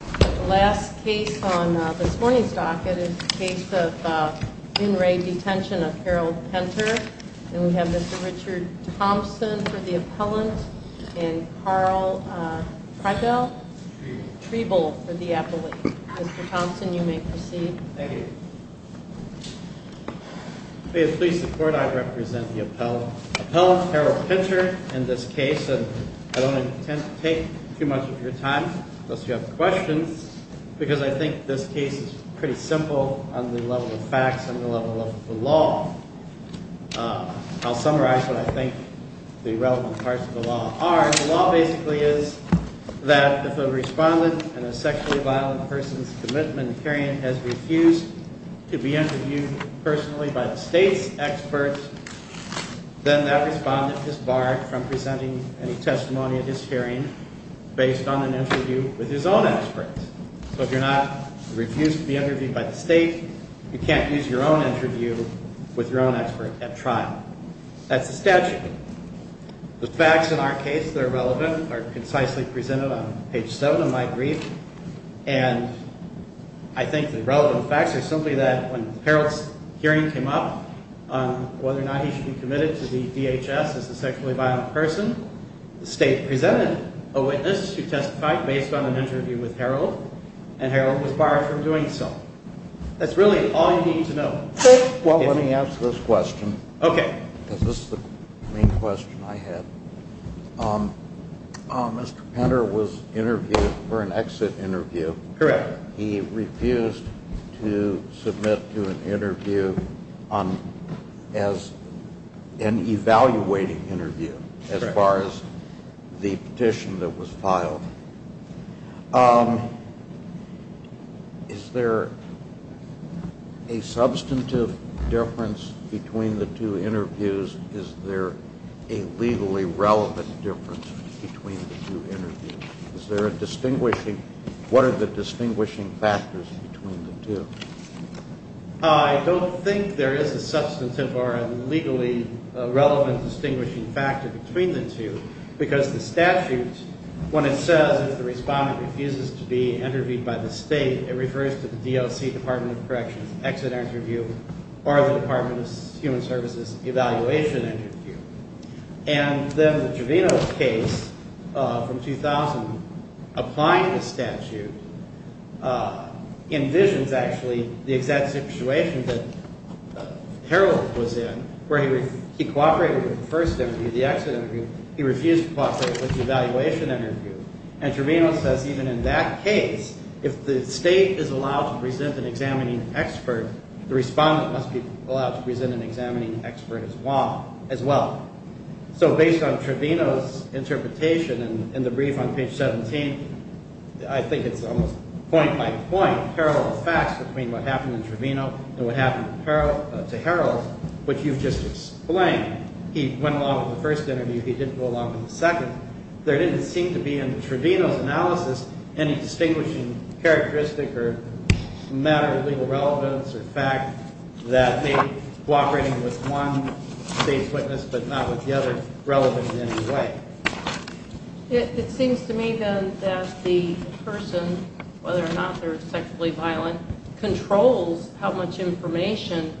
The last case on this morning's docket is the case of in re Detention of Harold Penter. And we have Mr. Richard Thompson for the appellant and Carl Treibel for the appellate. Mr. Thompson, you may proceed. Thank you. Please support. I represent the appellant, Harold Penter, in this case. And I don't intend to take too much of your time, unless you have questions, because I think this case is pretty simple on the level of facts, on the level of the law. I'll summarize what I think the relevant parts of the law are. The law basically is that if a respondent in a sexually violent person's commitment hearing has refused to be interviewed personally by the state's experts, then that respondent is barred from presenting any testimony at his hearing based on an interview with his own experts. So if you're not refused to be interviewed by the state, you can't use your own interview with your own expert at trial. That's the statute. The facts in our case that are relevant are concisely presented on page 7 of my brief. And I think the relevant facts are simply that when Harold's hearing came up on whether or not he should be committed to the DHS as a sexually violent person, the state presented a witness who testified based on an interview with Harold, and Harold was barred from doing so. That's really all you need to know. Well, let me ask this question. Okay. Because this is the main question I had. Mr. Penner was interviewed for an exit interview. Correct. He refused to submit to an interview as an evaluating interview as far as the petition that was filed. Is there a substantive difference between the two interviews? Is there a legally relevant difference between the two interviews? Is there a distinguishing – what are the distinguishing factors between the two? I don't think there is a substantive or a legally relevant distinguishing factor between the two because the statute, when it says if the respondent refuses to be interviewed by the state, it refers to the DOC, Department of Corrections, exit interview, or the Department of Human Services evaluation interview. And then the Giovino case from 2000 applying the statute envisions actually the exact situation that Harold was in where he cooperated with the first interview, the exit interview. He refused to cooperate with the evaluation interview. And Trevino says even in that case, if the state is allowed to present an examining expert, the respondent must be allowed to present an examining expert as well. So based on Trevino's interpretation in the brief on page 17, I think it's almost point by point parallel facts between what happened in Trevino and what happened to Harold, which you've just explained. He went along with the first interview. He didn't go along with the second. There didn't seem to be in Trevino's analysis any distinguishing characteristic or matter of legal relevance or fact that they cooperated with one state's witness but not with the other relevant in any way. It seems to me, then, that the person, whether or not they're sexually violent, controls how much information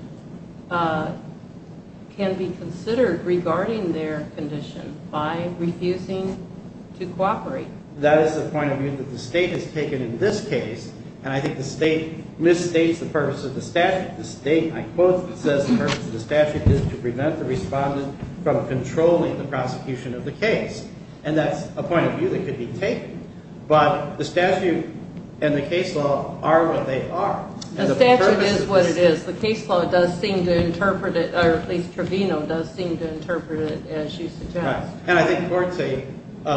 can be considered regarding their condition by refusing to cooperate. That is the point of view that the state has taken in this case. And I think the state misstates the purpose of the statute. The state, I quote, says the purpose of the statute is to prevent the respondent from controlling the prosecution of the case. And that's a point of view that could be taken. But the statute and the case law are what they are. The statute is what it is. The case law does seem to interpret it, or at least Trevino does seem to interpret it, as you suggest. And I think Courtsay,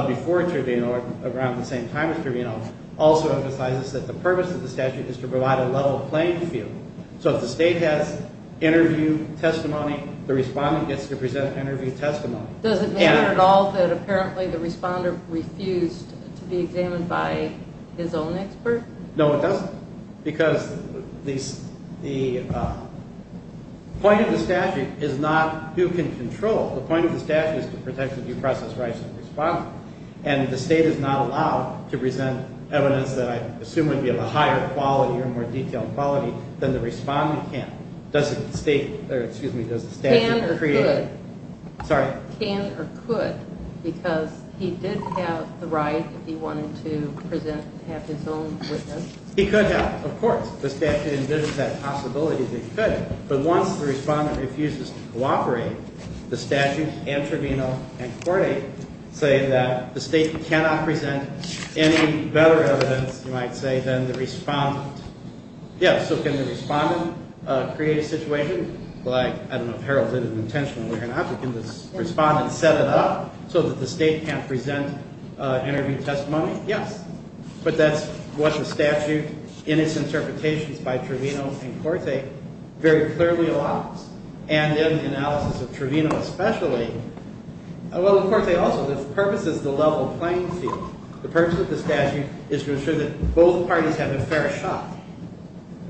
before Trevino, around the same time as Trevino, also emphasizes that the purpose of the statute is to provide a level playing field. So if the state has interview testimony, the respondent gets to present interview testimony. Does it matter at all that apparently the responder refused to be examined by his own expert? No, it doesn't. Because the point of the statute is not who can control. The point of the statute is to protect the due process rights of the respondent. And the state is not allowed to present evidence that I assume would be of a higher quality or more detailed quality than the respondent can. Can or could, because he did have the right if he wanted to present and have his own witness? He could have, of course. The statute envisions that possibility that he could. But once the respondent refuses to cooperate, the statute and Trevino and Courtay say that the state cannot present any better evidence, you might say, than the respondent. Yes, so can the respondent create a situation like, I don't know if Harold did it intentionally or not, but can the respondent set it up so that the state can't present interview testimony? Yes. But that's what the statute in its interpretations by Trevino and Courtay very clearly allows. And in the analysis of Trevino especially, well, and Courtay also, the purpose is the level playing field. The purpose of the statute is to ensure that both parties have a fair shot.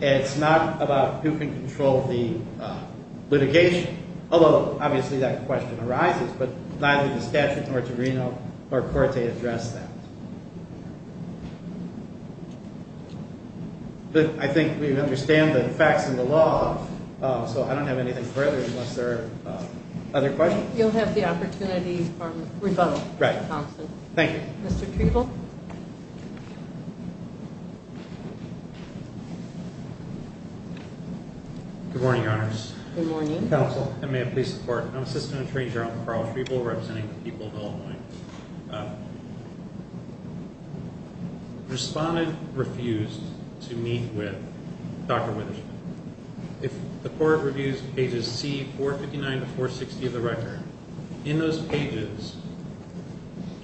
And it's not about who can control the litigation, although obviously that question arises, but neither the statute nor Trevino nor Courtay address that. But I think we understand the facts and the law, so I don't have anything further unless there are other questions. You'll have the opportunity for rebuttal. Right. Mr. Thompson. Thank you. Mr. Trevill. Good morning, Your Honors. Good morning. Counsel, and may I please report? I'm Assistant Attorney General Carl Trevill representing the people of Illinois. Respondent refused to meet with Dr. Witherspoon. If the court reviews pages C459 to 460 of the record, in those pages,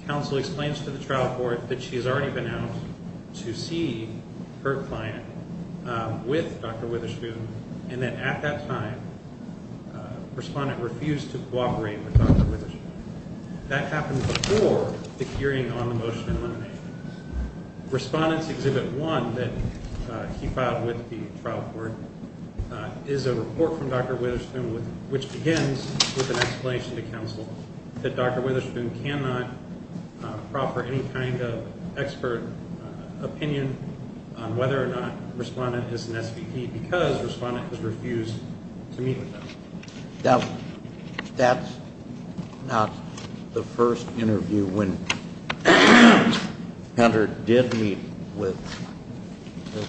counsel explains to the trial court that she has already been out to see her client with Dr. Witherspoon, and that at that time, respondent refused to cooperate with Dr. Witherspoon. That happened before the hearing on the motion to eliminate. Respondent's Exhibit 1 that he filed with the trial court is a report from Dr. Witherspoon, which begins with an explanation to counsel that Dr. Witherspoon cannot proffer any kind of expert opinion on whether or not respondent is an SVP because respondent has refused to meet with them. That's not the first interview when respondent did meet with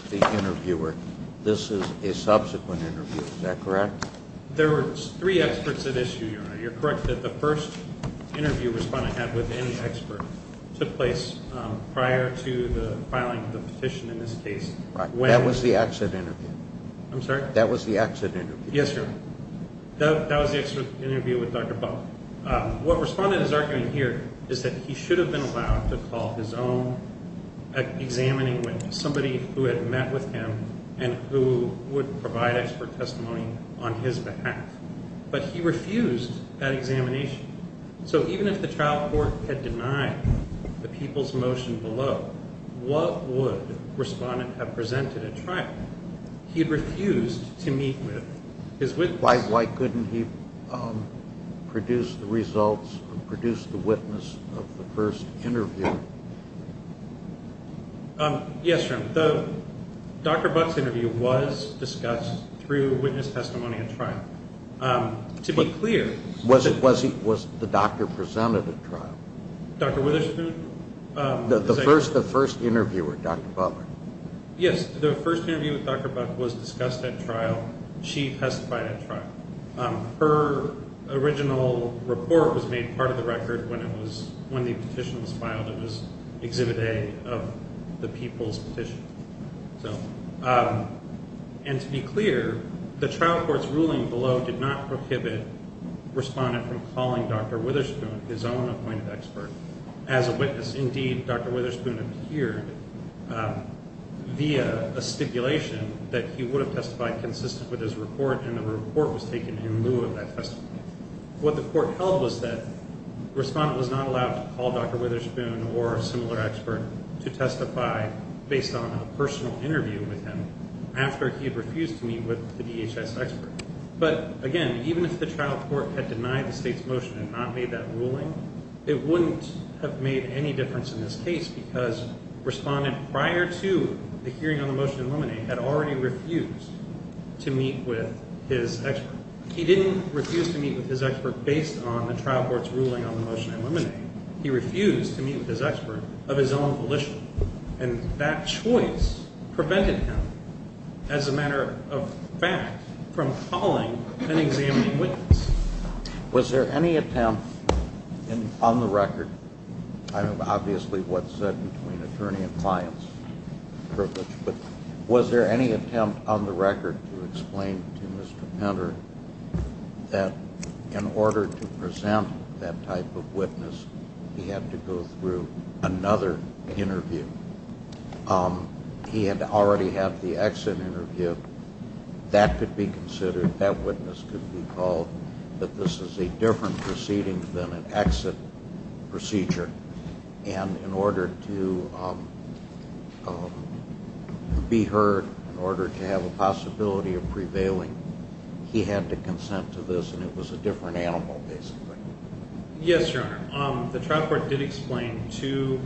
the interviewer. This is a subsequent interview. Is that correct? There were three experts at issue, Your Honor. You're correct that the first interview respondent had with any expert took place prior to the filing of the petition in this case. That was the exit interview. I'm sorry? That was the exit interview. Yes, Your Honor. That was the exit interview with Dr. Buck. What respondent is arguing here is that he should have been allowed to call his own examining witness, somebody who had met with him and who would provide expert testimony on his behalf. But he refused that examination. So even if the trial court had denied the people's motion below, what would respondent have presented at trial? He had refused to meet with his witness. Why couldn't he produce the results, produce the witness of the first interview? Yes, Your Honor. Dr. Buck's interview was discussed through witness testimony at trial. To be clear. Was the doctor presented at trial? Dr. Witherspoon? The first interviewer, Dr. Buck. Yes, the first interview with Dr. Buck was discussed at trial. She testified at trial. Her original report was made part of the record when the petition was filed. It was Exhibit A of the people's petition. And to be clear, the trial court's ruling below did not prohibit respondent from calling Dr. Witherspoon, his own appointed expert, as a witness. Indeed, Dr. Witherspoon appeared via a stipulation that he would have testified consistent with his report, and the report was taken in lieu of that testimony. What the court held was that respondent was not allowed to call Dr. Witherspoon or a similar expert to testify based on a personal interview with him after he had refused to meet with the DHS expert. But, again, even if the trial court had denied the state's motion and not made that ruling, it wouldn't have made any difference in this case because respondent, prior to the hearing on the motion to eliminate, had already refused to meet with his expert. He didn't refuse to meet with his expert based on the trial court's ruling on the motion to eliminate. He refused to meet with his expert of his own volition, and that choice prevented him, as a matter of fact, from calling and examining witnesses. Was there any attempt on the record, obviously what's said between attorney and client's privilege, but was there any attempt on the record to explain to Mr. Penner that in order to present that type of witness, he had to go through another interview? He had already had the exit interview. That could be considered, that witness could be called, that this is a different proceeding than an exit procedure, and in order to be heard, in order to have a possibility of prevailing, he had to consent to this, and it was a different animal, basically. Yes, Your Honor. The trial court did explain to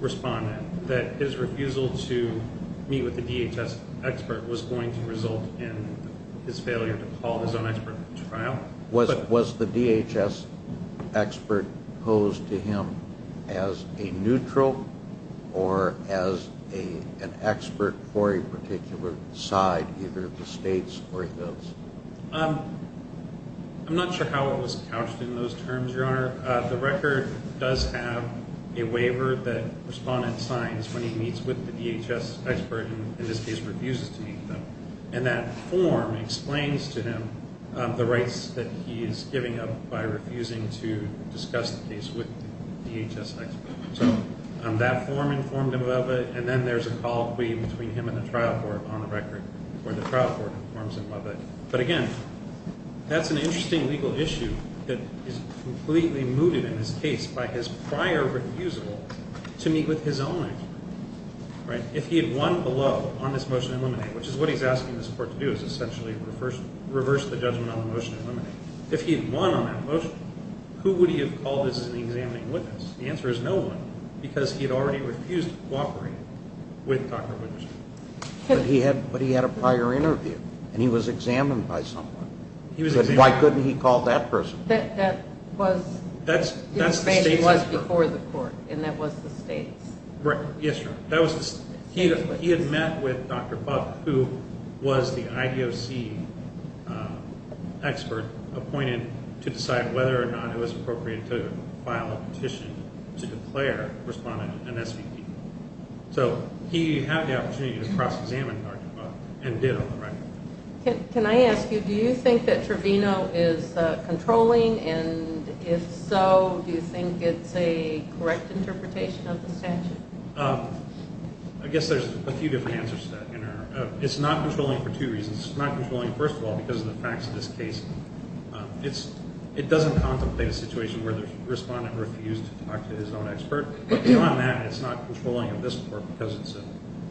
respondent that his refusal to meet with the DHS expert was going to result in his failure to call his own expert to trial. Was the DHS expert posed to him as a neutral or as an expert for a particular side, either the states or his? I'm not sure how it was couched in those terms, Your Honor. The record does have a waiver that respondent signs when he meets with the DHS expert and in this case refuses to meet them, and that form explains to him the rights that he is giving up by refusing to discuss the case with the DHS expert. So that form informed him of it, and then there's a colloquy between him and the trial court on the record where the trial court informs him of it. But again, that's an interesting legal issue that is completely mooted in this case by his prior refusal to meet with his own expert. If he had won below on this motion to eliminate, which is what he's asking this court to do, is essentially reverse the judgment on the motion to eliminate. If he had won on that motion, who would he have called as an examining witness? The answer is no one because he had already refused to cooperate with Dr. Winterstein. But he had a prior interview, and he was examined by someone. Why couldn't he call that person? That was before the court, and that was the state's. Yes, Your Honor. He had met with Dr. Buck, who was the IDOC expert appointed to decide whether or not it was appropriate to file a petition to declare a respondent an SVP. So he had the opportunity to cross-examine Dr. Buck and did on the record. Can I ask you, do you think that Trevino is controlling? And if so, do you think it's a correct interpretation of the statute? I guess there's a few different answers to that, Your Honor. It's not controlling for two reasons. It's not controlling, first of all, because of the facts of this case. It doesn't contemplate a situation where the respondent refused to talk to his own expert. But beyond that, it's not controlling of this court because it's an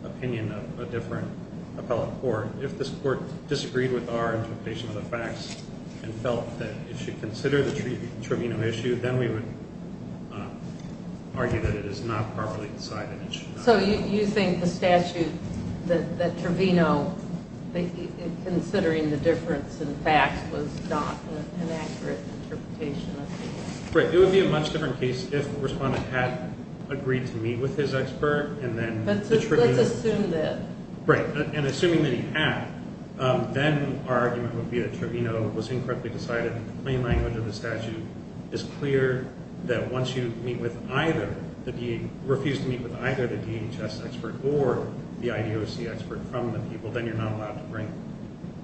opinion of a different appellate court. If this court disagreed with our interpretation of the facts and felt that it should consider the Trevino issue, then we would argue that it is not properly decided. So you think the statute that Trevino, considering the difference in facts, was not an accurate interpretation of the case? Right. It would be a much different case if the respondent had agreed to meet with his expert and then the Trevino. Let's assume that. Right. And assuming that he had, then our argument would be that Trevino was incorrectly decided. The plain language of the statute is clear that once you meet with either the DHS, refuse to meet with either the DHS expert or the IDOC expert from the people, then you're not allowed to bring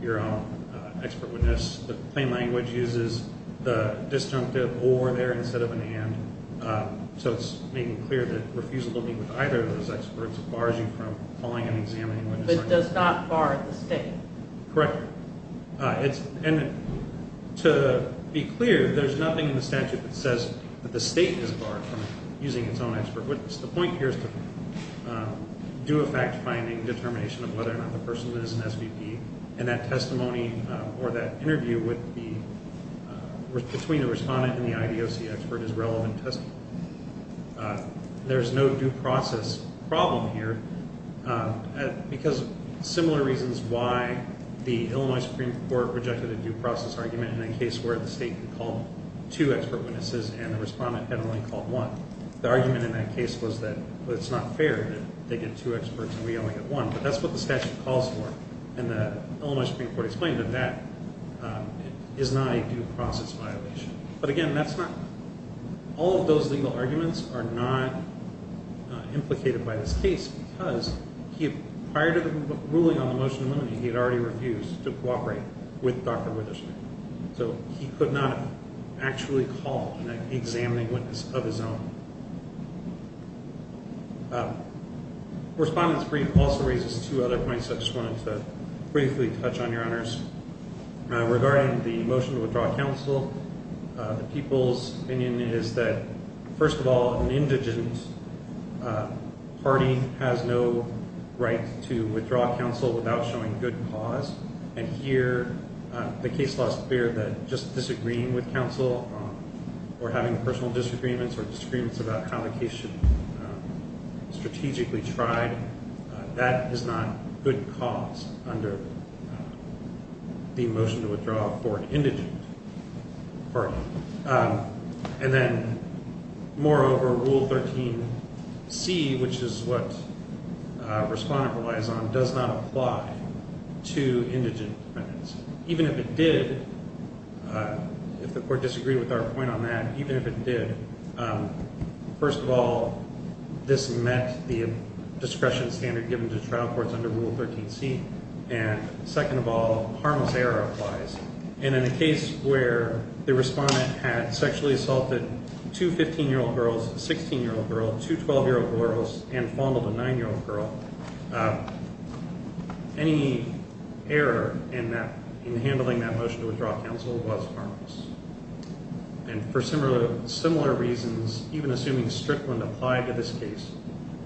your own expert witness. The plain language uses the disjunctive or there instead of an and, so it's making clear that refuse to meet with either of those experts bars you from calling an examiner. But does not bar the state. Correct. And to be clear, there's nothing in the statute that says that the state is barred from using its own expert witness. The point here is to do a fact-finding determination of whether or not the person is an SVP, and that testimony or that interview would be between the respondent and the IDOC expert is relevant. There's no due process problem here because similar reasons why the Illinois Supreme Court rejected a due process argument in a case where the state called two expert witnesses and the respondent had only called one. The argument in that case was that it's not fair that they get two experts and we only get one. But that's what the statute calls for. And the Illinois Supreme Court explained that that is not a due process violation. But, again, that's not – all of those legal arguments are not implicated by this case because prior to the ruling on the motion to eliminate, he had already refused to cooperate with Dr. Witherspoon. So he could not actually call an examining witness of his own. The respondent's brief also raises two other points I just wanted to briefly touch on, Your Honors. Regarding the motion to withdraw counsel, the people's opinion is that, first of all, an indigent party has no right to withdraw counsel without showing good cause. And here the case law is clear that just disagreeing with counsel or having personal disagreements or disagreements about how the case should be strategically tried, that is not good cause under the motion to withdraw for an indigent party. And then, moreover, Rule 13c, which is what respondent relies on, does not apply to indigent defendants. Even if it did, if the court disagreed with our point on that, even if it did, first of all, this met the discretion standard given to trial courts under Rule 13c. And, second of all, harmless error applies. And in a case where the respondent had sexually assaulted two 15-year-old girls, a 16-year-old girl, two 12-year-old girls, and fondled a 9-year-old girl, any error in handling that motion to withdraw counsel was harmless. And for similar reasons, even assuming Strickland applied to this case,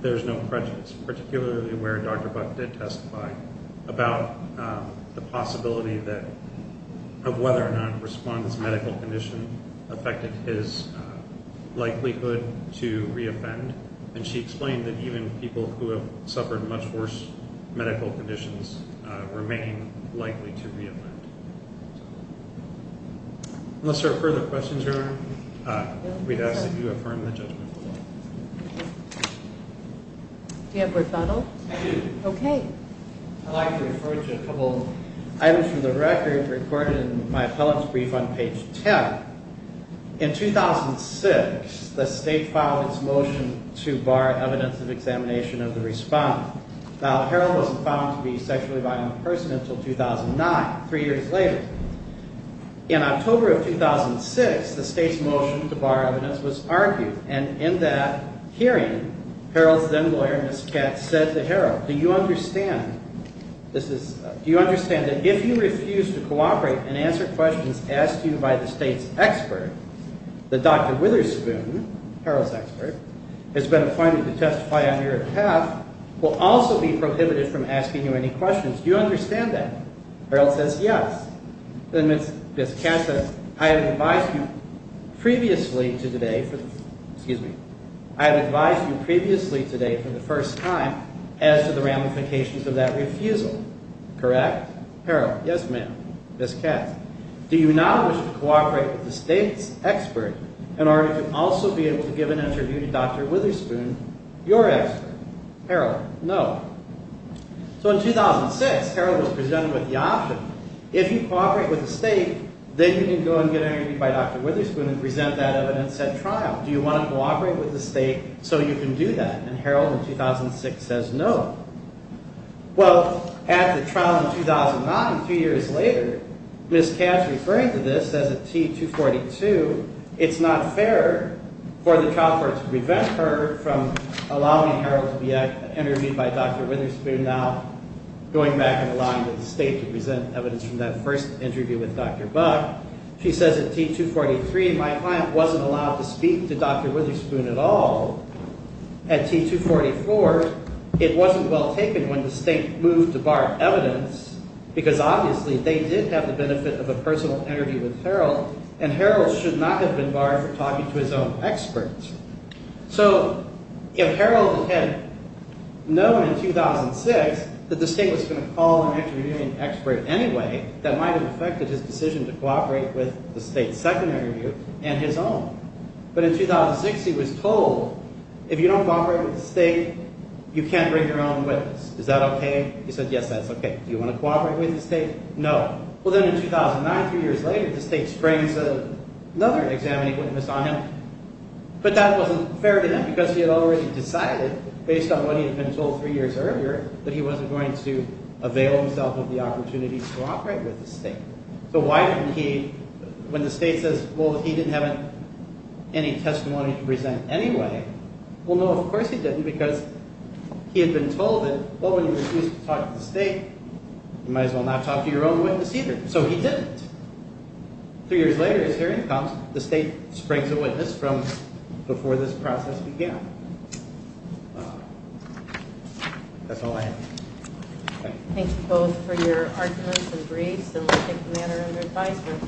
there's no prejudice, particularly where Dr. Buck did testify, about the possibility of whether or not a respondent's medical condition affected his likelihood to reoffend. And she explained that even people who have suffered much worse medical conditions remain likely to reoffend. Unless there are further questions, Your Honor, I would ask that you affirm the judgment. Do you have a rebuttal? I do. Okay. I'd like to refer to a couple items from the record recorded in my appellant's brief on page 10. In 2006, the state filed its motion to bar evidence of examination of the respondent. Now, the hero was found to be sexually violent in person until 2009, three years later. In October of 2006, the state's motion to bar evidence was argued, and in that hearing, Harold's then-lawyer, Ms. Katz, said to Harold, Do you understand that if you refuse to cooperate and answer questions asked to you by the state's expert, the Dr. Witherspoon, Harold's expert, has been appointed to testify on your behalf, will also be prohibited from asking you any questions. Do you understand that? Harold says yes. Then Ms. Katz says, I have advised you previously today for the first time as to the ramifications of that refusal. Correct? Harold, yes, ma'am. Ms. Katz, do you not wish to cooperate with the state's expert in order to also be able to give an interview to Dr. Witherspoon, your expert? Harold, no. So in 2006, Harold was presented with the option. If you cooperate with the state, then you can go and get interviewed by Dr. Witherspoon and present that evidence at trial. Do you want to cooperate with the state so you can do that? And Harold, in 2006, says no. Well, at the trial in 2009, three years later, Ms. Katz, referring to this as a T-242, it's not fair for the trial court to prevent her from allowing Harold to be interviewed by Dr. Witherspoon, now going back and allowing the state to present evidence from that first interview with Dr. Buck. She says at T-243, my client wasn't allowed to speak to Dr. Witherspoon at all. At T-244, it wasn't well taken when the state moved to bar evidence, because obviously they did have the benefit of a personal interview with Harold, and Harold should not have been barred from talking to his own experts. So if Harold had known in 2006 that the state was going to call an interviewing expert anyway, that might have affected his decision to cooperate with the state's second interview and his own. But in 2006, he was told, if you don't cooperate with the state, you can't bring your own witness. Is that okay? He said, yes, that's okay. Do you want to cooperate with the state? No. Well, then in 2009, three years later, the state springs another examining witness on him. But that wasn't fair to him, because he had already decided, based on what he had been told three years earlier, that he wasn't going to avail himself of the opportunity to cooperate with the state. So why didn't he, when the state says, well, he didn't have any testimony to present anyway, well, no, of course he didn't, because he had been told that, well, when you refuse to talk to the state, you might as well not talk to your own witness either. So he didn't. Three years later, his hearing comes, the state springs a witness from before this process began. That's all I have. Thank you both for your arguments and briefs and listening manner and advisement.